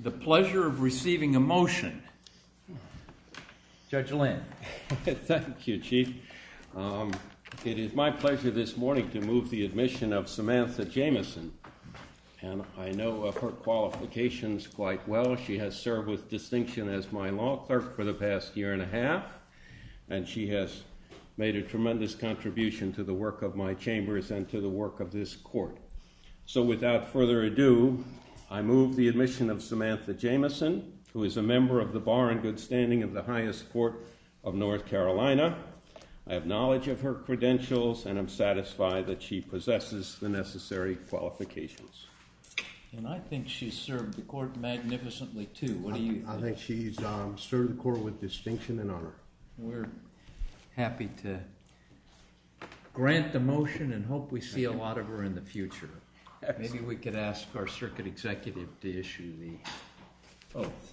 The pleasure of receiving a motion. Judge Lynn. Thank you, Chief. It is my pleasure this morning to move the admission of Samantha Jamieson. And I know of her qualifications quite well. She has served with distinction as my law clerk for the past year and a half. And she has made a tremendous contribution to the work of my chambers and to the work of this court. So without further ado, I move the admission of Samantha Jamieson, who is a member of the Bar and Good Standing of the highest court of North Carolina. I have knowledge of her credentials and I'm satisfied that she possesses the necessary qualifications. And I think she's served the court magnificently, too. I think she's served the court with distinction and honor. We're happy to grant the motion and hope we see a lot of her in the future. Maybe we could ask our circuit executive to issue the oath.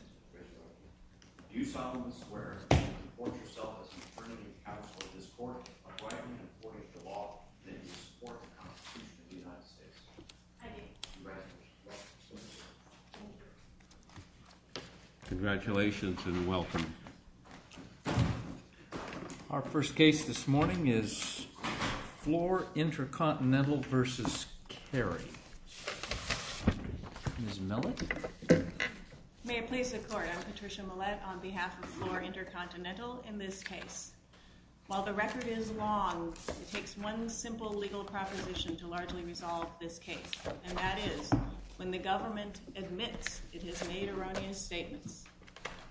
Do solemnly swear and inform yourself as an attorney and counsel of this court, by right and according to law, that you support the Constitution of the United States. I do. Congratulations. Thank you. Congratulations and welcome. Our first case this morning is Floor Intercontinental versus Carey. Ms. Millett? May it please the court. I'm Patricia Millett on behalf of Floor Intercontinental in this case. While the record is long, it takes one simple legal proposition to largely resolve this case. And that is, when the government admits it has made erroneous statements,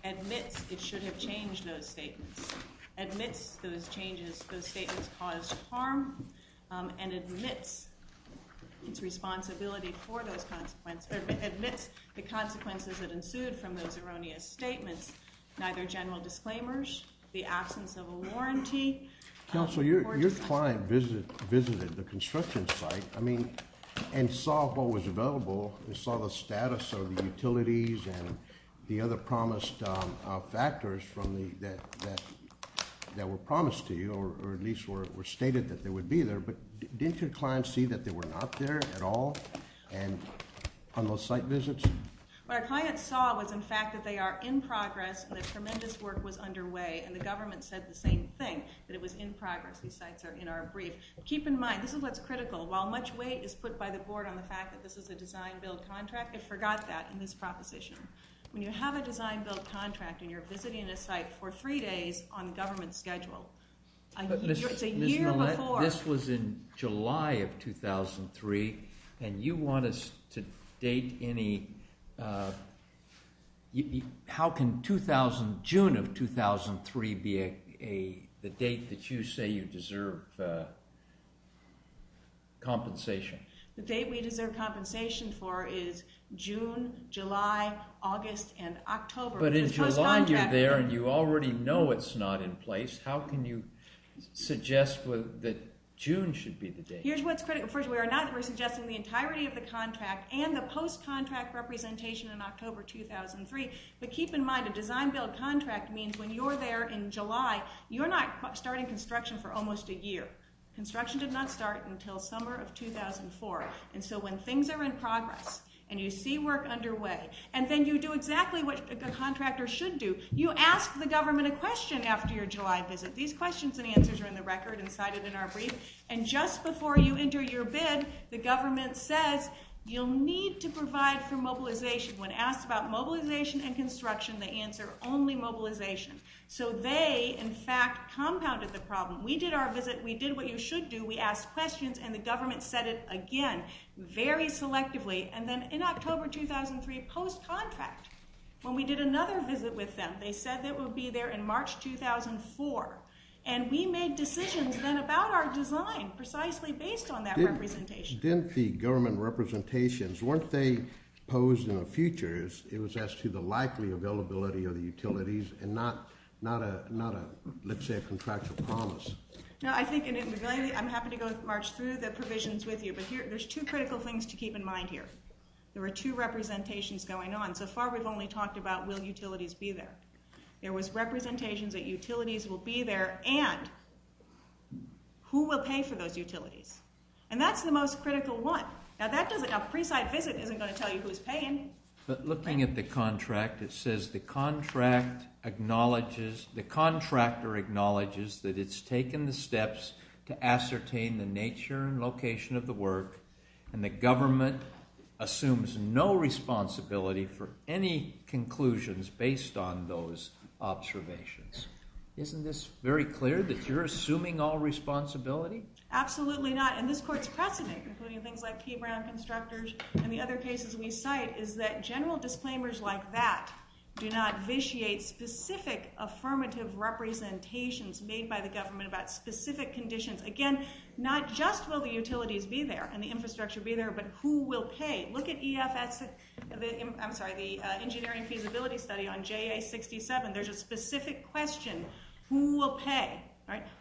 admits it should have changed those statements, admits those changes, those statements caused harm, and admits its responsibility for those consequences, admits the consequences that ensued from those erroneous statements, neither general disclaimers, the absence of a warranty. Counsel, your client visited the construction site and saw what was available, and saw the status of the utilities and the other promised factors from that that were promised to you, or at least were stated that they would be there. But didn't your client see that they were not there at all and on those site visits? What our client saw was, in fact, that they are in progress and that tremendous work was underway. And the government said the same thing, that it was in progress. These sites are in our brief. Keep in mind, this is what's critical. While much weight is put by the board on the fact that this is a design-build contract, it forgot that in this proposition. When you have a design-build contract and you're visiting a site for three days on government schedule, it's a year before. This was in July of 2003. And you want us to date any, how can June of 2003 be the date that you say you deserve compensation? The date we deserve compensation for is June, July, August, and October. But in July, you're there and you already know it's not in place. How can you suggest that June should be the date? Here's what's critical. First, we're not suggesting the entirety of the contract and the post-contract representation in October 2003. But keep in mind, a design-build contract means when you're there in July, you're not starting construction for almost a year. Construction did not start until summer of 2004. And so when things are in progress and you see work underway, and then you do exactly what a contractor should do, you ask the government a question after your July visit. These questions and answers are in the record and cited in our brief. And just before you enter your bid, the government says, you'll need to provide for mobilization. When asked about mobilization and construction, they answer, only mobilization. So they, in fact, compounded the problem. We did our visit. We did what you should do. We asked questions. And the government said it again, very selectively. And then in October 2003, post-contract, when we did another visit with them, they said they would be there in March 2004. And we made decisions then about our design, precisely based on that representation. Didn't the government representations, weren't they posed in the future as it was as to the likely availability of the utilities and not, let's say, a contractual promise? No, I think I'm happy to go march through the provisions with you. But there's two critical things to keep in mind here. There were two representations going on. So far, we've only talked about, will utilities be there? There was representations that utilities will be there and who will pay for those utilities. And that's the most critical one. Now, a pre-site visit isn't going to tell you who's paying. But looking at the contract, it says, the contractor acknowledges that it's taken the steps to ascertain the nature and location of the work, and the government assumes no responsibility for any conclusions based on those observations. Isn't this very clear, that you're assuming all responsibility? Absolutely not. And this court's precedent, including things like K Brown constructors and the other cases we cite, is that general disclaimers like that do not vitiate specific affirmative representations made by the government about specific conditions. Again, not just will the utilities be there and the infrastructure be there, but who will pay? Look at EFS, I'm sorry, the Engineering Feasibility Study on JA67. There's a specific question. Who will pay?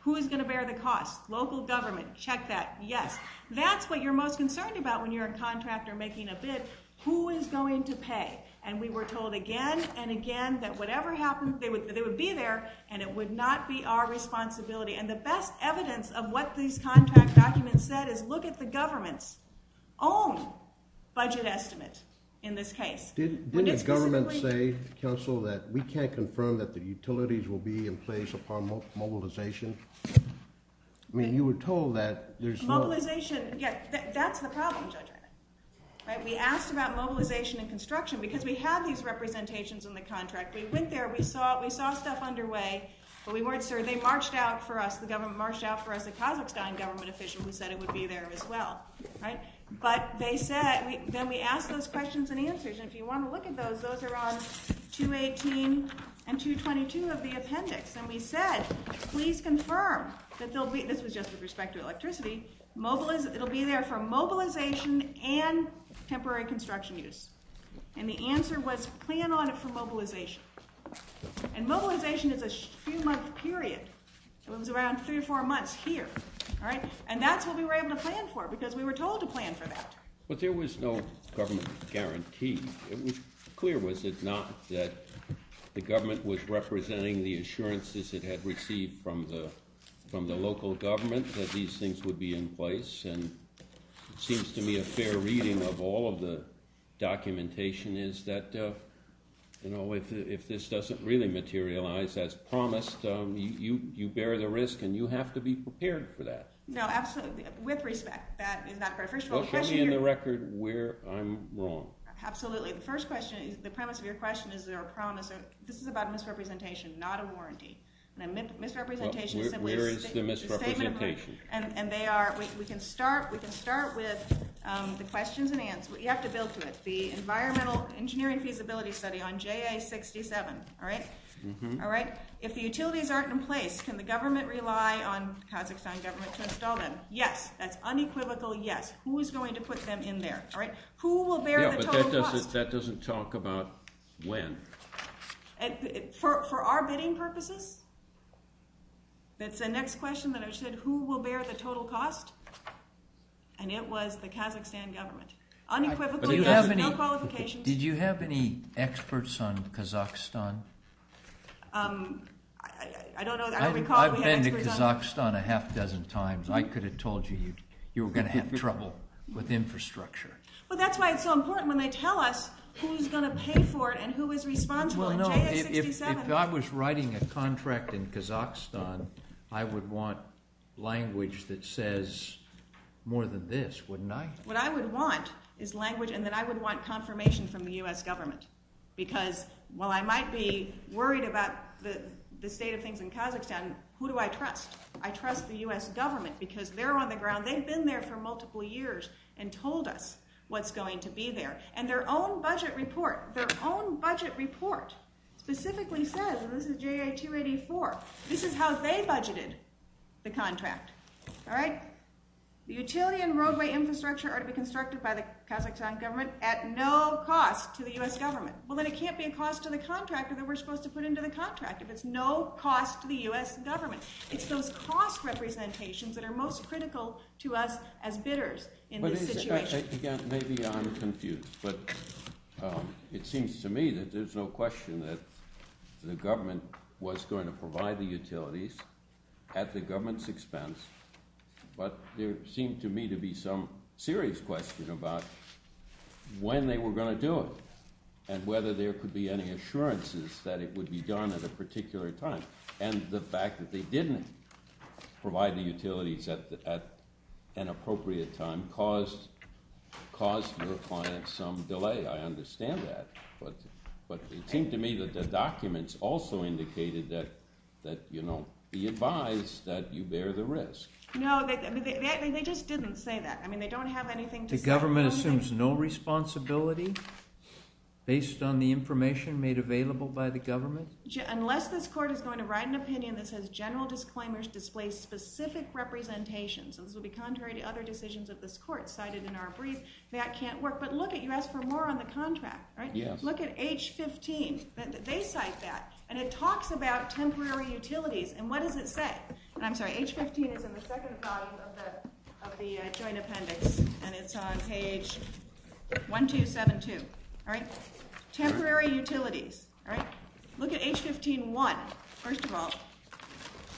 Who is going to bear the cost? Local government. Check that. Yes. That's what you're most concerned about when you're a contractor making a bid. Who is going to pay? And we were told again and again that whatever happens, they would be there, and it would not be our responsibility. And the best evidence of what these contract documents said is, look at the government's own budget estimate in this case. Did the government say to counsel that we can't confirm that the utilities will be in place upon mobilization? I mean, you were told that there's no. Mobilization, yeah, that's the problem, Judge Wright. We asked about mobilization and construction because we have these representations in the contract. We went there, we saw stuff underway, but we weren't sure. They marched out for us. The government marched out for us, the Kazakhstan government official who said it would be there as well. But they said, then we asked those questions and answers. And if you want to look at those, those are on 218 and 222 of the appendix. And we said, please confirm that they'll be, this was just with respect to electricity, it'll be there for mobilization and temporary construction use. And the answer was, plan on it for mobilization. And mobilization is a few-month period. It was around three or four months here. And that's what we were able to plan for, because we were told to plan for that. But there was no government guarantee. It was clear, was it not, that the government was representing the assurances it had received from the local government that these things would be in place. And it seems to me a fair reading of all of the documentation is that, you know, if this doesn't really materialize as promised, you bear the risk and you have to be prepared for that. No, absolutely, with respect, that is not correct. First of all, the question here- Well, show me in the record where I'm wrong. Absolutely, the first question is, the premise of your question is there a promise, this is about misrepresentation, not a warranty. Now, misrepresentation is simply a statement- Where is the misrepresentation? And they are, we can start, we can start with the questions and answers. You have to build to it. The Environmental Engineering Feasibility Study on JA67, all right, all right? If the utilities aren't in place, can the government rely on Kazakhstan government to install them? Yes, that's unequivocal yes. Who is going to put them in there, all right? Who will bear the total cost? That doesn't talk about when. For our bidding purposes, that's the next question that I said, who will bear the total cost? And it was the Kazakhstan government. Unequivocally yes, no qualifications. Did you have any experts on Kazakhstan? I don't know, I recall we had experts on- I've been to Kazakhstan a half dozen times. I could have told you, you were gonna have trouble with infrastructure. Well, that's why it's so important when they tell us who's gonna pay for it and who is responsible in JA67. Well, no, if I was writing a contract in Kazakhstan, I would want language that says more than this, wouldn't I? What I would want is language, and then I would want confirmation from the U.S. government because while I might be worried about the state of things in Kazakhstan, who do I trust? I trust the U.S. government because they're on the ground. They've been there for multiple years and told us what's going to be there. And their own budget report, their own budget report specifically says, and this is JA284, this is how they budgeted the contract, all right? The utility and roadway infrastructure are to be constructed by the Kazakhstan government at no cost to the U.S. government. Well, then it can't be a cost to the contractor that we're supposed to put into the contract if it's no cost to the U.S. government. It's those cost representations that are most critical to us as bidders in this situation. Maybe I'm confused, but it seems to me that there's no question that the government was going to provide the utilities at the government's expense, but there seemed to me to be some serious question about when they were going to do it and whether there could be any assurances that it would be done at a particular time. And the fact that they didn't provide the utilities at an appropriate time caused the client some delay. I understand that, but it seemed to me that the documents also indicated that be advised that you bear the risk. No, they just didn't say that. I mean, they don't have anything to say. The government assumes no responsibility based on the information made available by the government? Unless this court is going to write an opinion that says general disclaimers display specific representations, and this will be contrary to other decisions of this court cited in our brief, that can't work. But look at, you asked for more on the contract, right? Look at H-15, they cite that, and it talks about temporary utilities, and what does it say? And I'm sorry, H-15 is in the second volume of the joint appendix, and it's on page 1272, all right? Temporary utilities, all right? Look at H-15-1. First of all,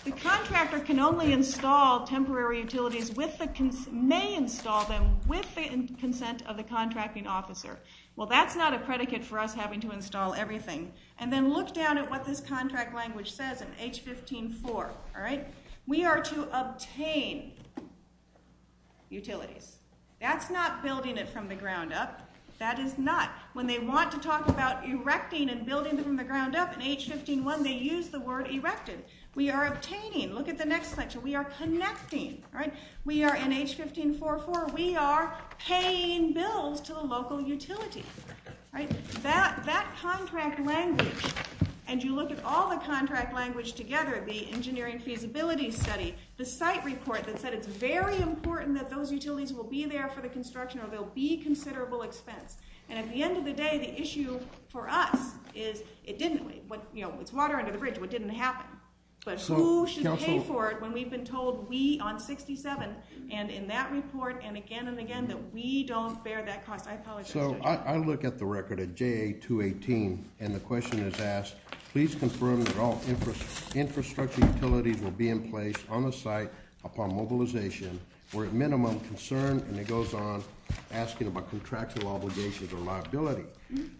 the contractor can only install temporary utilities with the, may install them with the consent of the contracting officer. Well, that's not a predicate for us having to install everything, and then look down at what this contract language says in H-15-4, all right? We are to obtain utilities. That's not building it from the ground up, that is not. When they want to talk about erecting and building it from the ground up, in H-15-1, they use the word erected. We are obtaining, look at the next section, we are connecting, all right? We are, in H-15-4-4, we are paying bills to the local utility, all right? That contract language, and you look at all the contract language together, the engineering feasibility study, the site report that said it's very important that those utilities will be there for the construction or they'll be considerable expense, and at the end of the day, the issue for us is, it didn't, you know, it's water under the bridge, what didn't happen, but who should pay for it when we've been told, we, on 67, and in that report, and again and again, that we don't bear that cost, I apologize. So I look at the record at JA-218, and the question is asked, please confirm that all infrastructure utilities will be in place on the site upon mobilization. We're at minimum concerned, and it goes on, asking about contractual obligations or liability.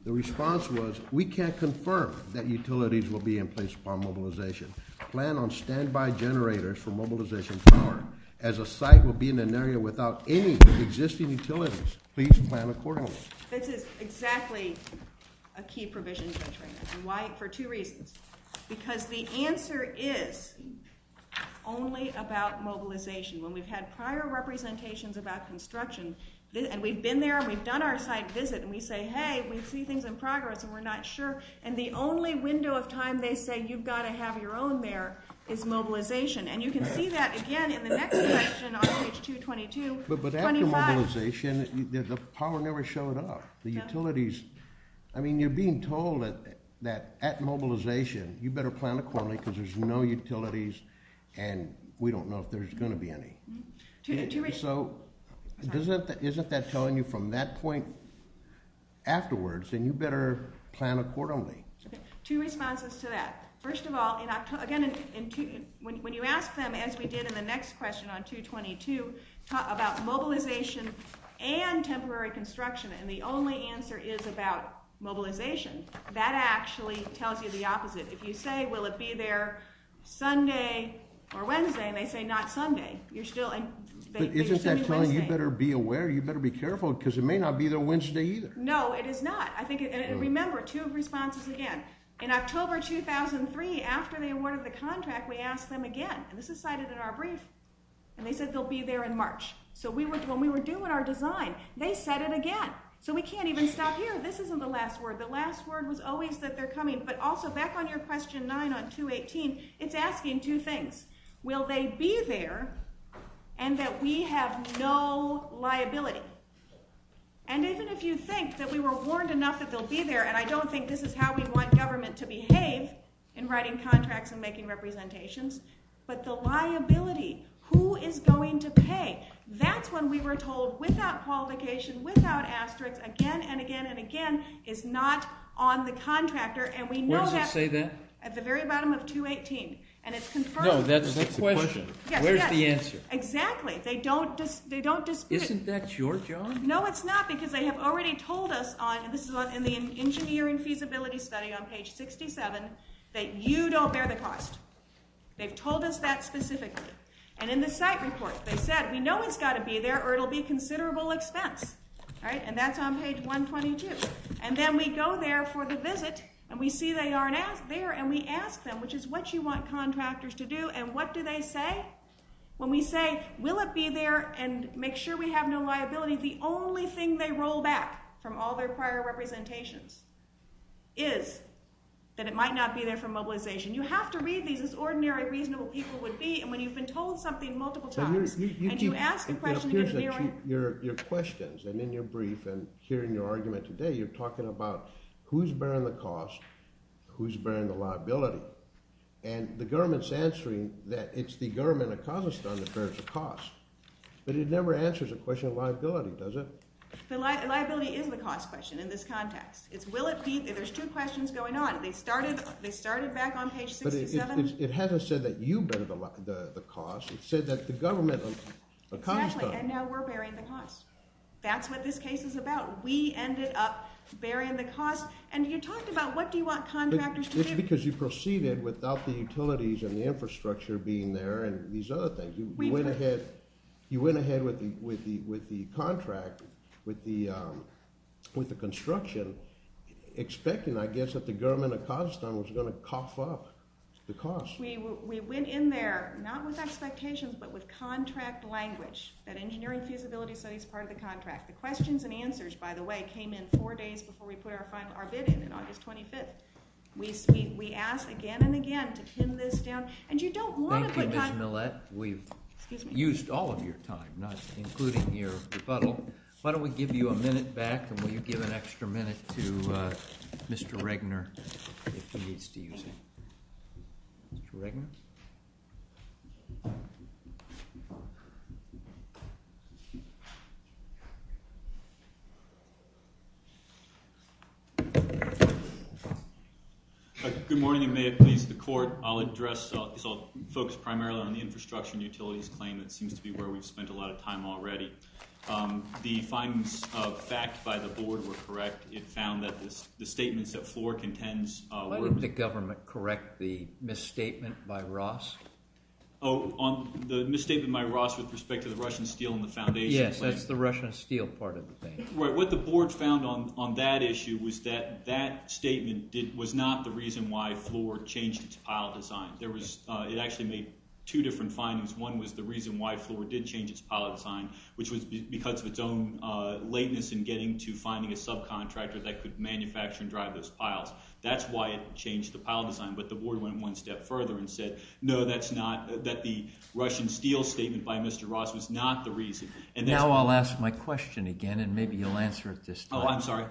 The response was, we can't confirm that utilities will be in place upon mobilization. Plan on standby generators for mobilization power, as a site will be in an area without any existing utilities. Please plan accordingly. This is exactly a key provision to the training. Why, for two reasons. Because the answer is only about mobilization. When we've had prior representations about construction, and we've been there, and we've done our site visit, and we say, hey, we see things in progress, and we're not sure, and the only window of time they say you've gotta have your own there is mobilization. And you can see that, again, in the next section on page 222, 25. But after mobilization, the power never showed up. The utilities, I mean, you're being told that at mobilization, you better plan accordingly, because there's no utilities, and we don't know if there's gonna be any. So, isn't that telling you from that point afterwards, and you better plan accordingly? Two responses to that. First of all, again, when you ask them, as we did in the next question on 222, about mobilization and temporary construction, and the only answer is about mobilization, that actually tells you the opposite. If you say, will it be there Sunday or Wednesday, and they say, not Sunday, you're still in, they think it's gonna be Wednesday. But isn't that telling, you better be aware, you better be careful, because it may not be there Wednesday either. No, it is not. I think, and remember, two responses again. In October 2003, after they awarded the contract, we asked them again, and this is cited in our brief, and they said they'll be there in March. So, when we were doing our design, they said it again. So, we can't even stop here. This isn't the last word. The last word was always that they're coming, but also, back on your question nine on 218, it's asking two things. Will they be there, and that we have no liability? And even if you think that we were warned enough that they'll be there, and I don't think this is how we want government to behave in writing contracts and making representations, but the liability, who is going to pay? That's when we were told, without qualification, without asterisks, again, and again, and again, is not on the contractor, and we know that's- Where does it say that? At the very bottom of 218. And it's confirmed- No, that's the question. Where's the answer? Exactly, they don't dispute- Isn't that your job? No, it's not, because they have already told us on, and this is in the engineering feasibility study on page 67, that you don't bear the cost. They've told us that specifically. And in the site report, they said, we know it's gotta be there, or it'll be considerable expense, right? And that's on page 122. And then we go there for the visit, and we see they aren't there, and we ask them, which is what you want contractors to do, and what do they say? When we say, will it be there, and make sure we have no liability, the only thing they roll back from all their prior representations is that it might not be there for mobilization. You have to read these as ordinary, reasonable people would be, and when you've been told something multiple times, and you ask a question- Your questions, and in your brief, and here in your argument today, you're talking about who's bearing the cost, who's bearing the liability. And the government's answering that it's the government of Kazakhstan that bears the cost. But it never answers the question of liability, does it? The liability is the cost question in this context. It's will it be, there's two questions going on. They started back on page 67. It hasn't said that you bear the cost. It said that the government of Kazakhstan- Exactly, and now we're bearing the cost. That's what this case is about. We ended up bearing the cost, and you talked about what do you want contractors to do. It's because you proceeded without the utilities and the infrastructure being there, and these other things. You went ahead with the contract, with the construction, expecting, I guess, that the government of Kazakhstan was gonna cough up the cost. We went in there, not with expectations, but with contract language, that engineering feasibility study's part of the contract. The questions and answers, by the way, came in four days before we put our bid in, in August 25th. We asked again and again to pin this down, and you don't wanna put- Mr. Millett, we've used all of your time, not including your rebuttal. Why don't we give you a minute back, and will you give an extra minute to Mr. Regner, if he needs to use it? Mr. Regner? Good morning, and may it please the court, I'll address, I'll focus primarily on the infrastructure and utilities claim. It seems to be where we've spent a lot of time already. The findings of fact by the board were correct. It found that the statements that Floor contends- Wouldn't the government correct the misstatement by Ross? Oh, the misstatement by Ross with respect to the Russian steel and the foundation- Yes, that's the Russian steel part of the thing. Right, what the board found on that issue was that that statement was not the reason why Floor changed its pile design. There was, it actually made two different findings. One was the reason why Floor did change its pile design, which was because of its own lateness in getting to finding a subcontractor that could manufacture and drive those piles. That's why it changed the pile design, but the board went one step further and said, no, that's not, that the Russian steel statement by Mr. Ross was not the reason. And that's why- Now I'll ask my question again, and maybe you'll answer it this time. Oh, I'm sorry.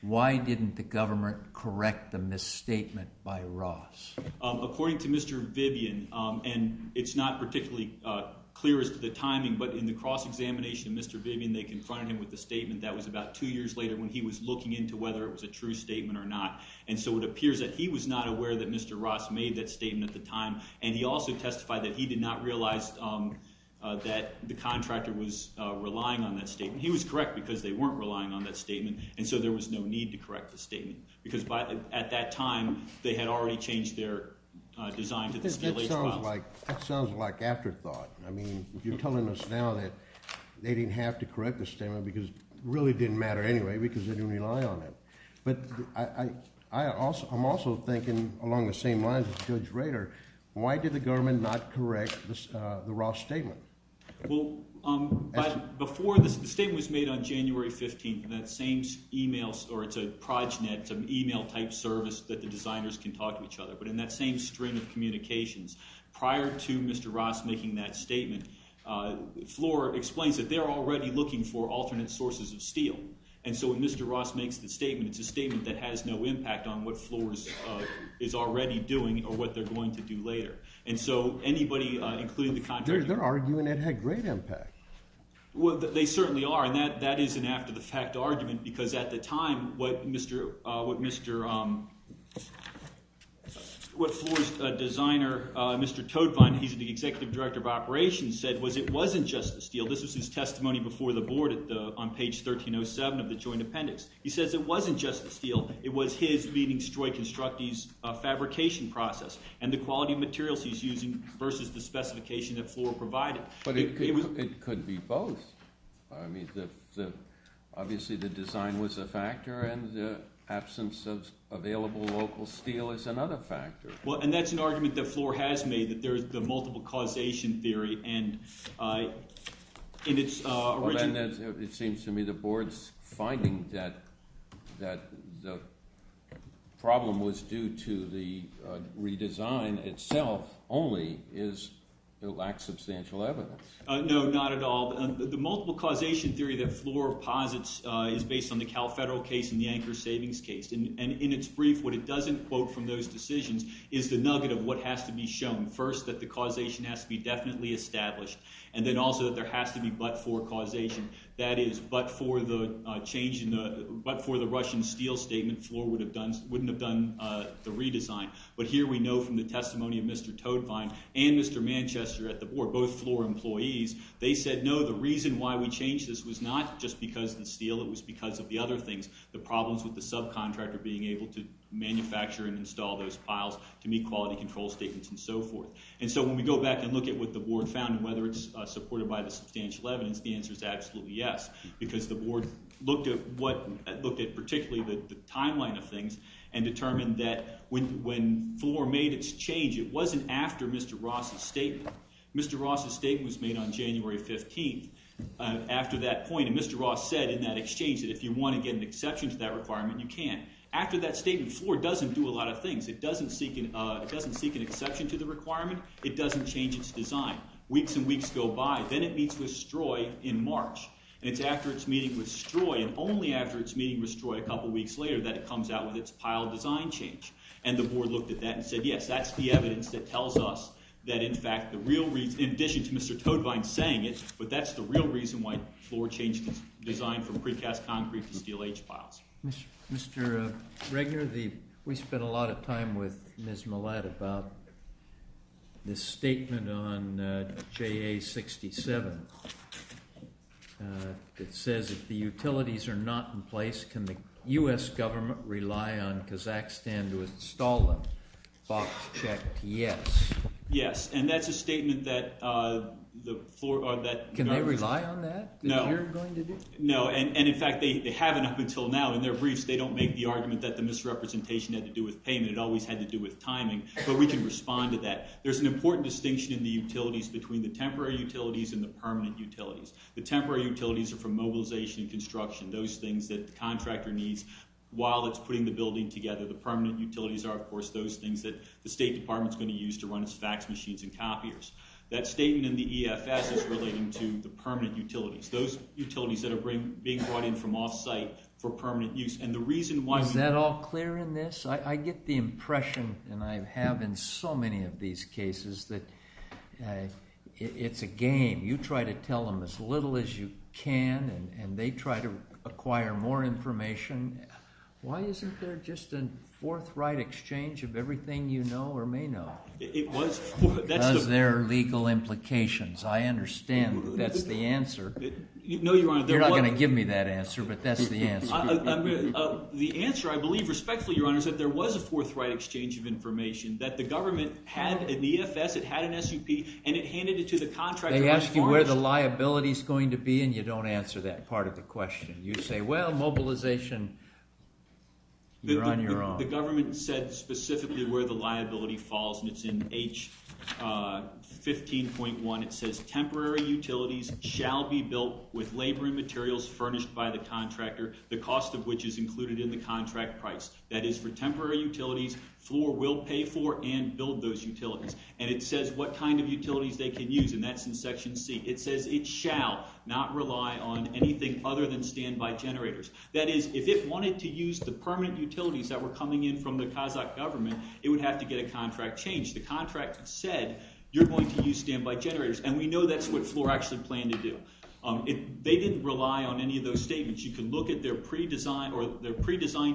Why didn't the government correct the misstatement by Ross? According to Mr. Vivian, and it's not particularly clear as to the timing, but in the cross-examination of Mr. Vivian, they confronted him with the statement that was about two years later when he was looking into whether it was a true statement or not. And so it appears that he was not aware that Mr. Ross made that statement at the time. And he also testified that he did not realize that the contractor was relying on that statement. He was correct because they weren't relying on that statement and so there was no need to correct the statement because at that time, they had already changed their design to the steel age files. That sounds like afterthought. I mean, you're telling us now that they didn't have to correct the statement because it really didn't matter anyway because they didn't rely on it. But I'm also thinking along the same lines as Judge Rader, why did the government not correct the Ross statement? Well, before the statement was made on January 15th, that same email, or it's a progenet, it's an email type service that the designers can talk to each other. But in that same string of communications, prior to Mr. Ross making that statement, Floor explains that they're already looking for alternate sources of steel. And so when Mr. Ross makes the statement, it's a statement that has no impact on what Floor is already doing or what they're going to do later. And so anybody, including the contractor- They're arguing it had great impact. Well, they certainly are. And that is an after the fact argument because at the time, what Floor's designer, Mr. Toedtwein, he's the executive director of operations, said was it wasn't just the steel. This was his testimony before the board on page 1307 of the joint appendix. He says it wasn't just the steel. It was his leading Stroid Constructies fabrication process and the quality of materials he's using versus the specification that Floor provided. But it could be both. I mean, obviously the design was a factor and the absence of available local steel is another factor. Well, and that's an argument that Floor has made that there's the multiple causation theory. It seems to me the board's finding that the problem was due to the redesign itself only is it lacks substantial evidence. No, not at all. The multiple causation theory that Floor posits is based on the Cal Federal case and the Anchor Savings case. And in its brief, what it doesn't quote from those decisions is the nugget of what has to be shown. First, that the causation has to be definitely established. And then also that there has to be but-for causation. That is, but for the Russian steel statement, Floor wouldn't have done the redesign. But here we know from the testimony of Mr. Toedtwein and Mr. Manchester at the board, both Floor employees, they said, no, the reason why we changed this was not just because of the steel, it was because of the other things, the problems with the subcontractor being able to manufacture and install those piles to meet quality control statements and so forth. And so when we go back and look at what the board found and whether it's supported by the substantial evidence, the answer is absolutely yes, because the board looked at particularly the timeline of things and determined that when Floor made its change, it wasn't after Mr. Ross's statement. Mr. Ross's statement was made on January 15th. After that point, and Mr. Ross said in that exchange that if you want to get an exception to that requirement, you can. After that statement, Floor doesn't do a lot of things. It doesn't seek an exception to the requirement. It doesn't change its design. Weeks and weeks go by. Then it meets with Stroy in March. And it's after its meeting with Stroy, and only after its meeting with Stroy a couple weeks later that it comes out with its pile design change. And the board looked at that and said, yes, that's the evidence that tells us that in fact the real reason, in addition to Mr. Todvine saying it, but that's the real reason why Floor changed its design from precast concrete to steel H-piles. Mr. Regner, we spent a lot of time with Ms. Millett about this statement on JA-67. It says, if the utilities are not in place, can the U.S. government rely on Kazakhstan to install them? Box checked, yes. And that's a statement that the floor, that- Can they rely on that? No. That you're going to do? No, and in fact, they haven't up until now. In their briefs, they don't make the argument that the misrepresentation had to do with payment. It always had to do with timing. But we can respond to that. There's an important distinction in the utilities between the temporary utilities and the permanent utilities. The temporary utilities are for mobilization and construction, those things that the contractor needs while it's putting the building together. The permanent utilities are, of course, those things that the State Department's gonna use to run its fax machines and copiers. That statement in the EFS is relating to the permanent utilities. Those utilities that are being brought in from off-site for permanent use. And the reason why- Is that all clear in this? I get the impression, and I have in so many of these cases, that it's a game. You try to tell them as little as you can, and they try to acquire more information. Why isn't there just a forthright exchange of everything you know or may know? Is there legal implications? I understand that's the answer. No, Your Honor, there wasn't. You're not gonna give me that answer, but that's the answer you're giving me. The answer, I believe, respectfully, Your Honor, is that there was a forthright exchange of information that the government had in the EFS, it had an SUP, and it handed it to the contractor- They ask you where the liability's going to be, and you don't answer that part of the question. You say, well, mobilization, you're on your own. The government said specifically where the liability falls, and it's in H15.1. It says, temporary utilities shall be built with labor and materials furnished by the contractor, the cost of which is included in the contract price. That is, for temporary utilities, FLOR will pay for and build those utilities. And it says what kind of utilities they can use, and that's in Section C. It says it shall not rely on anything other than standby generators. That is, if it wanted to use the permanent utilities that were coming in from the Kazakh government, it would have to get a contract changed. The contract said, you're going to use standby generators, and we know that's what FLOR actually planned to do. They didn't rely on any of those statements. You can look at their pre-design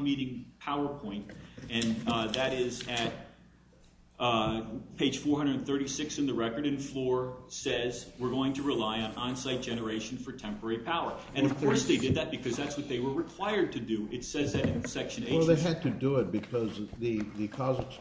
meeting PowerPoint, and that is at page 436 in the record, and FLOR says, we're going to rely on onsite generation for temporary power. And of course they did that, because that's what they were required to do. It says that in Section H. Well, they had to do it, because the Kazakh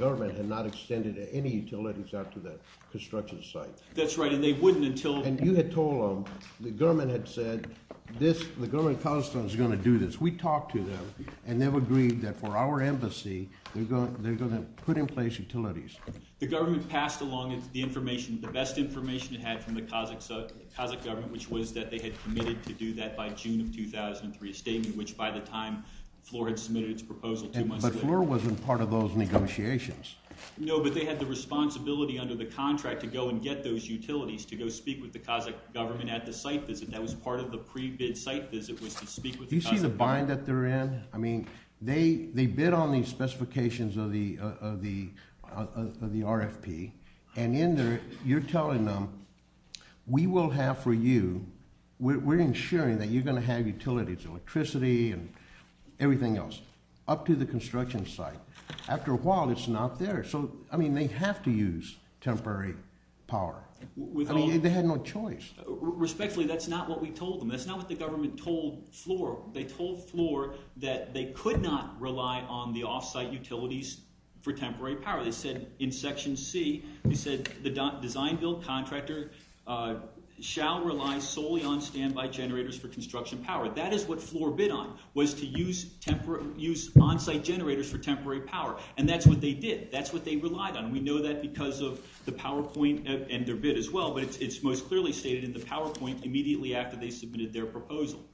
government had not extended any utilities out to the construction site. That's right, and they wouldn't until... And you had told them, the government had said, this, the government of Kazakhstan is going to do this. We talked to them, and they've agreed that for our embassy, they're going to put in place utilities. The government passed along the information, the best information it had from the Kazakh government, which was that they had committed to do that by June of 2003, a statement which, by the time FLOR had submitted its proposal, two months later... But FLOR wasn't part of those negotiations. No, but they had the responsibility under the contract to go and get those utilities, to go speak with the Kazakh government at the site visit. That was part of the pre-bid site visit, was to speak with the Kazakh government. Do you see the bind that they're in? I mean, they bid on these specifications of the RFP, and in there, you're telling them, we will have for you, we're ensuring that you're going to have utilities, electricity, and everything else, up to the construction site. After a while, it's not there. So, I mean, they have to use temporary power. I mean, they had no choice. Respectfully, that's not what we told them. That's not what the government told FLOR. They told FLOR that they could not rely on the off-site utilities for temporary power. They said, in section C, they said, the design-build contractor shall rely solely on standby generators for construction power. That is what FLOR bid on, was to use on-site generators for temporary power, and that's what they did. That's what they relied on. We know that because of the PowerPoint and their bid as well, but it's most clearly stated in the PowerPoint immediately after they submitted their proposal.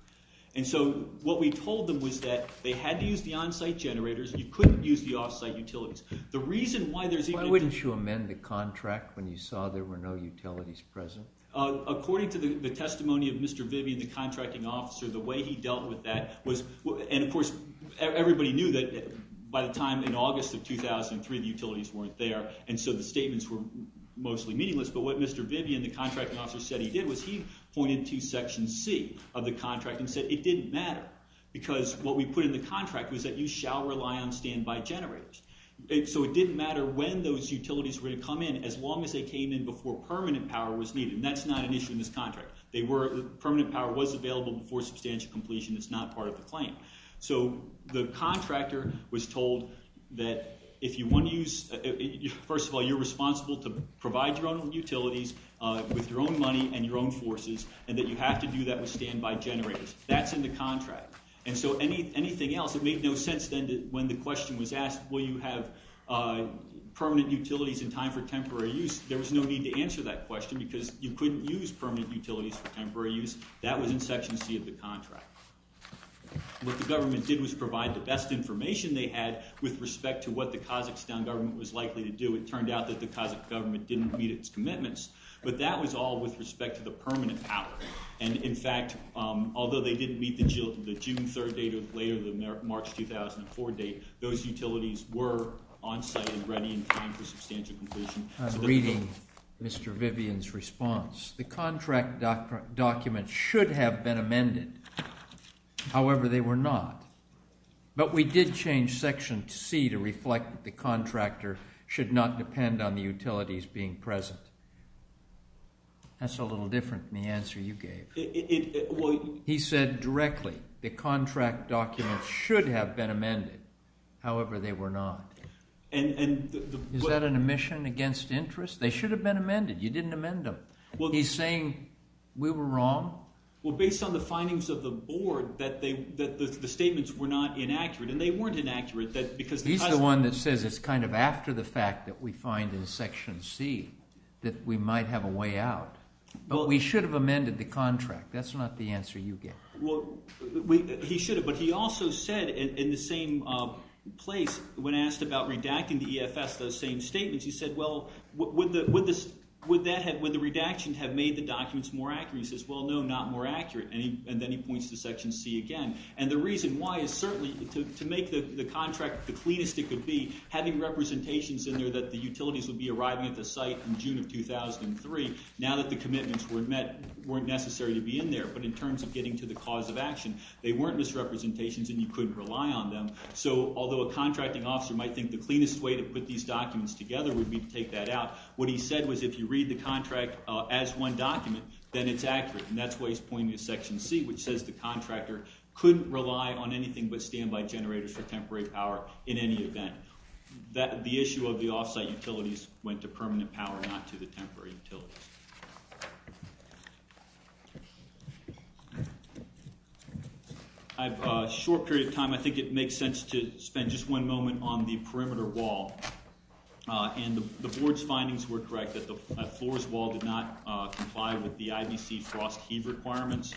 And so, what we told them was that they had to use the on-site generators. You couldn't use the off-site utilities. The reason why there's even- Why wouldn't you amend the contract when you saw there were no utilities present? According to the testimony of Mr. Vivian, the contracting officer, the way he dealt with that was- And of course, everybody knew that by the time in August of 2003, the utilities weren't there, and so the statements were mostly meaningless. But what Mr. Vivian, the contracting officer, said he did was he pointed to section C of the contract and said it didn't matter because what we put in the contract was that you shall rely on standby generators. So, it didn't matter when those utilities were gonna come in, as long as they came in before permanent power was needed. And that's not an issue in this contract. Permanent power was available before substantial completion. It's not part of the claim. So, the contractor was told that if you wanna use- First of all, you're responsible to provide your own utilities with your own money and your own forces, and that you have to do that with standby generators. That's in the contract. And so, anything else, it made no sense then when the question was asked, will you have permanent utilities in time for temporary use? There was no need to answer that question because you couldn't use permanent utilities for temporary use. That was in section C of the contract. What the government did was provide the best information they had with respect to what the Kazakhstan government was likely to do. It turned out that the Kazakhstan government didn't meet its commitments, but that was all with respect to the permanent power. And in fact, although they didn't meet the June 3rd date or later, the March 2004 date, those utilities were onsite and ready in time for substantial completion. Reading Mr. Vivian's response, the contract documents should have been amended. However, they were not. But we did change section C to reflect that the contractor should not depend on the utilities being present. That's a little different than the answer you gave. He said directly, the contract documents should have been amended. However, they were not. And- Is that an omission against interest? They should have been amended. You didn't amend them. Well, he's saying we were wrong. Well, based on the findings of the board that the statements were not inaccurate and they weren't inaccurate because- He's the one that says it's kind of after the fact that we find in section C that we might have a way out. But we should have amended the contract. That's not the answer you gave. Well, he should have, but he also said in the same place when asked about redacting the EFS, those same statements, he said, well, would the redaction have made the documents more accurate? He says, well, no, not more accurate. And then he points to section C again. And the reason why is certainly to make the contract the cleanest it could be, having representations in there that the utilities would be arriving at the site in June of 2003, now that the commitments weren't necessary to be in there, but in terms of getting to the cause of action. They weren't misrepresentations and you couldn't rely on them. So although a contracting officer might think the cleanest way to put these documents together would be to take that out, what he said was if you read the contract as one document, then it's accurate. And that's why he's pointing to section C, which says the contractor couldn't rely on anything but standby generators for temporary power in any event. The issue of the offsite utilities went to permanent power, not to the temporary utilities. I have a short period of time. I think it makes sense to spend just one moment on the perimeter wall. And the board's findings were correct that the floors wall did not comply with the IBC frost heave requirements.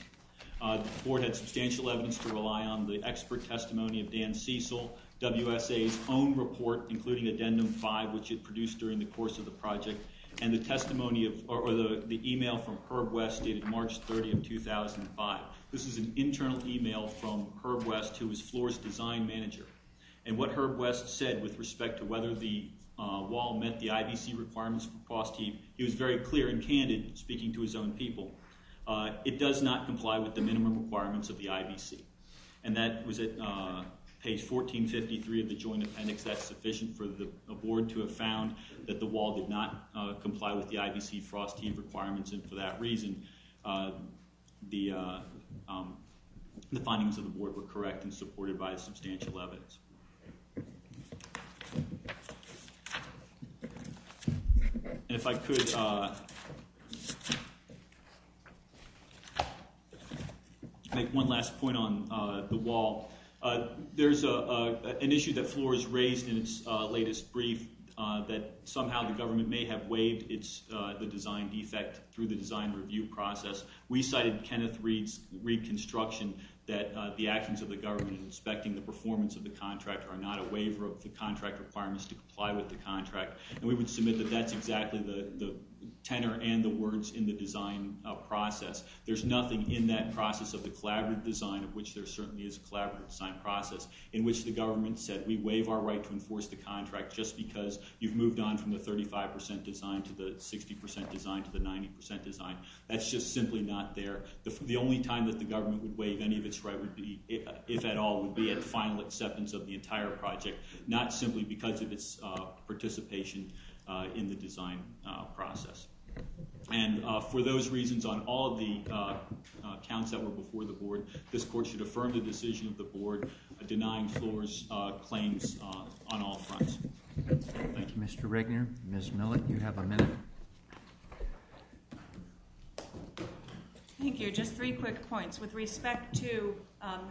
The board had substantial evidence to rely on the expert testimony of Dan Cecil, WSA's own report, including addendum five, which it produced during the course of the project, and the testimony of, or the email from Herb West dated March 30 of 2005. This is an internal email from Herb West, who was floor's design manager. And what Herb West said with respect to whether the wall met the IBC requirements for frost heave, he was very clear and candid speaking to his own people. It does not comply with the minimum requirements of the IBC. And that was at page 1453 of the joint appendix. That's sufficient for the board to have found that the wall did not comply with the IBC frost heave requirements. And for that reason, the findings of the board were correct and supported by substantial evidence. And if I could make one last point on the wall. There's an issue that floor has raised in its latest brief that somehow the government may have waived the design defect through the design review process. We cited Kenneth Reed's reconstruction that the actions of the government in respecting the performance of the contract are not a waiver of the contract requirements to comply with the contract. And we would submit that that's exactly the tenor and the words in the design process. There's nothing in that process of the collaborative design of which there certainly is a collaborative design process in which the government said, we waive our right to enforce the contract just because you've moved on from the 35% design to the 60% design to the 90% design. That's just simply not there. The only time that the government would waive any of its right would be, if at all, would be at the final acceptance of the entire project, not simply because of its participation in the design process. And for those reasons on all of the counts that were before the board, this court should affirm the decision of the board denying floors claims on all fronts. Thank you. Mr. Regner, Ms. Millett, you have a minute. Thank you, just three quick points. With respect to,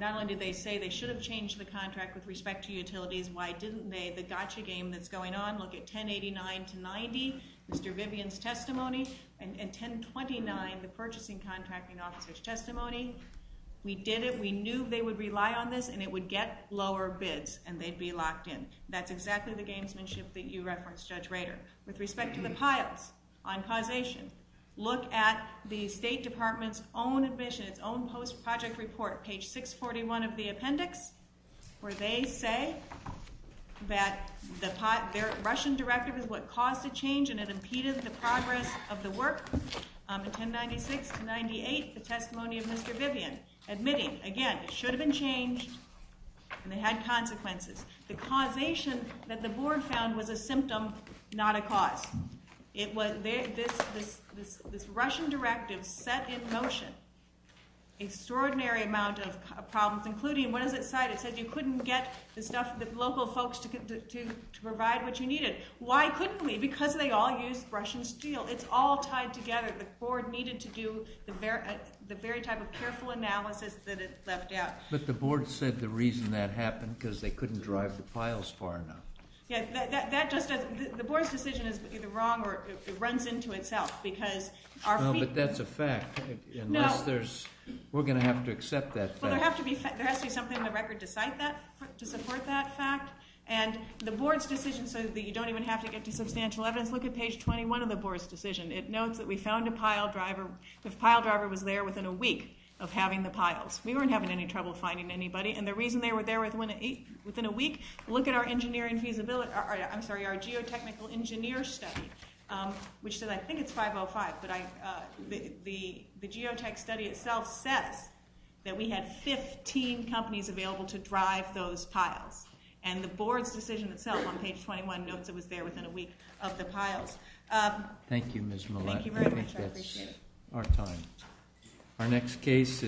not only did they say they should have changed the contract with respect to utilities, why didn't they? The gotcha game that's going on, look at 1089 to 90, Mr. Vivian's testimony, and 1029, the purchasing contracting officer's testimony. We did it, we knew they would rely on this and it would get lower bids and they'd be locked in. That's exactly the gamesmanship that you referenced, Judge Rader. With respect to the piles on causation, look at the State Department's own admission, its own post-project report, page 641 of the appendix, where they say that their Russian directive is what caused the change and it impeded the progress of the work. In 1096 to 98, the testimony of Mr. Vivian, admitting, again, it should have been changed and they had consequences. The causation that the board found was a symptom, not a cause. This Russian directive set in motion extraordinary amount of problems, including, what does it say? It said you couldn't get the local folks to provide what you needed. Why couldn't we? Because they all used Russian steel. It's all tied together. The board needed to do the very type of careful analysis that it left out. But the board said the reason that happened, because they couldn't drive the piles far enough. Yeah, that just doesn't, the board's decision is either wrong or it runs into itself, because our feet. No, but that's a fact, unless there's, we're gonna have to accept that fact. Well, there has to be something in the record to cite that, to support that fact. And the board's decision, so that you don't even have to get to substantial evidence, look at page 21 of the board's decision. It notes that we found a pile driver. The pile driver was there within a week of having the piles. We weren't having any trouble finding anybody. And the reason they were there within a week, look at our engineering feasibility, I'm sorry, our geotechnical engineer study, which says, I think it's 505, but the geotech study itself says that we had 15 companies available to drive those piles. And the board's decision itself on page 21 notes it was there within a week of the piles. Thank you, Ms. Millett. Thank you very much, I appreciate it. I think that's our time. Our next case is,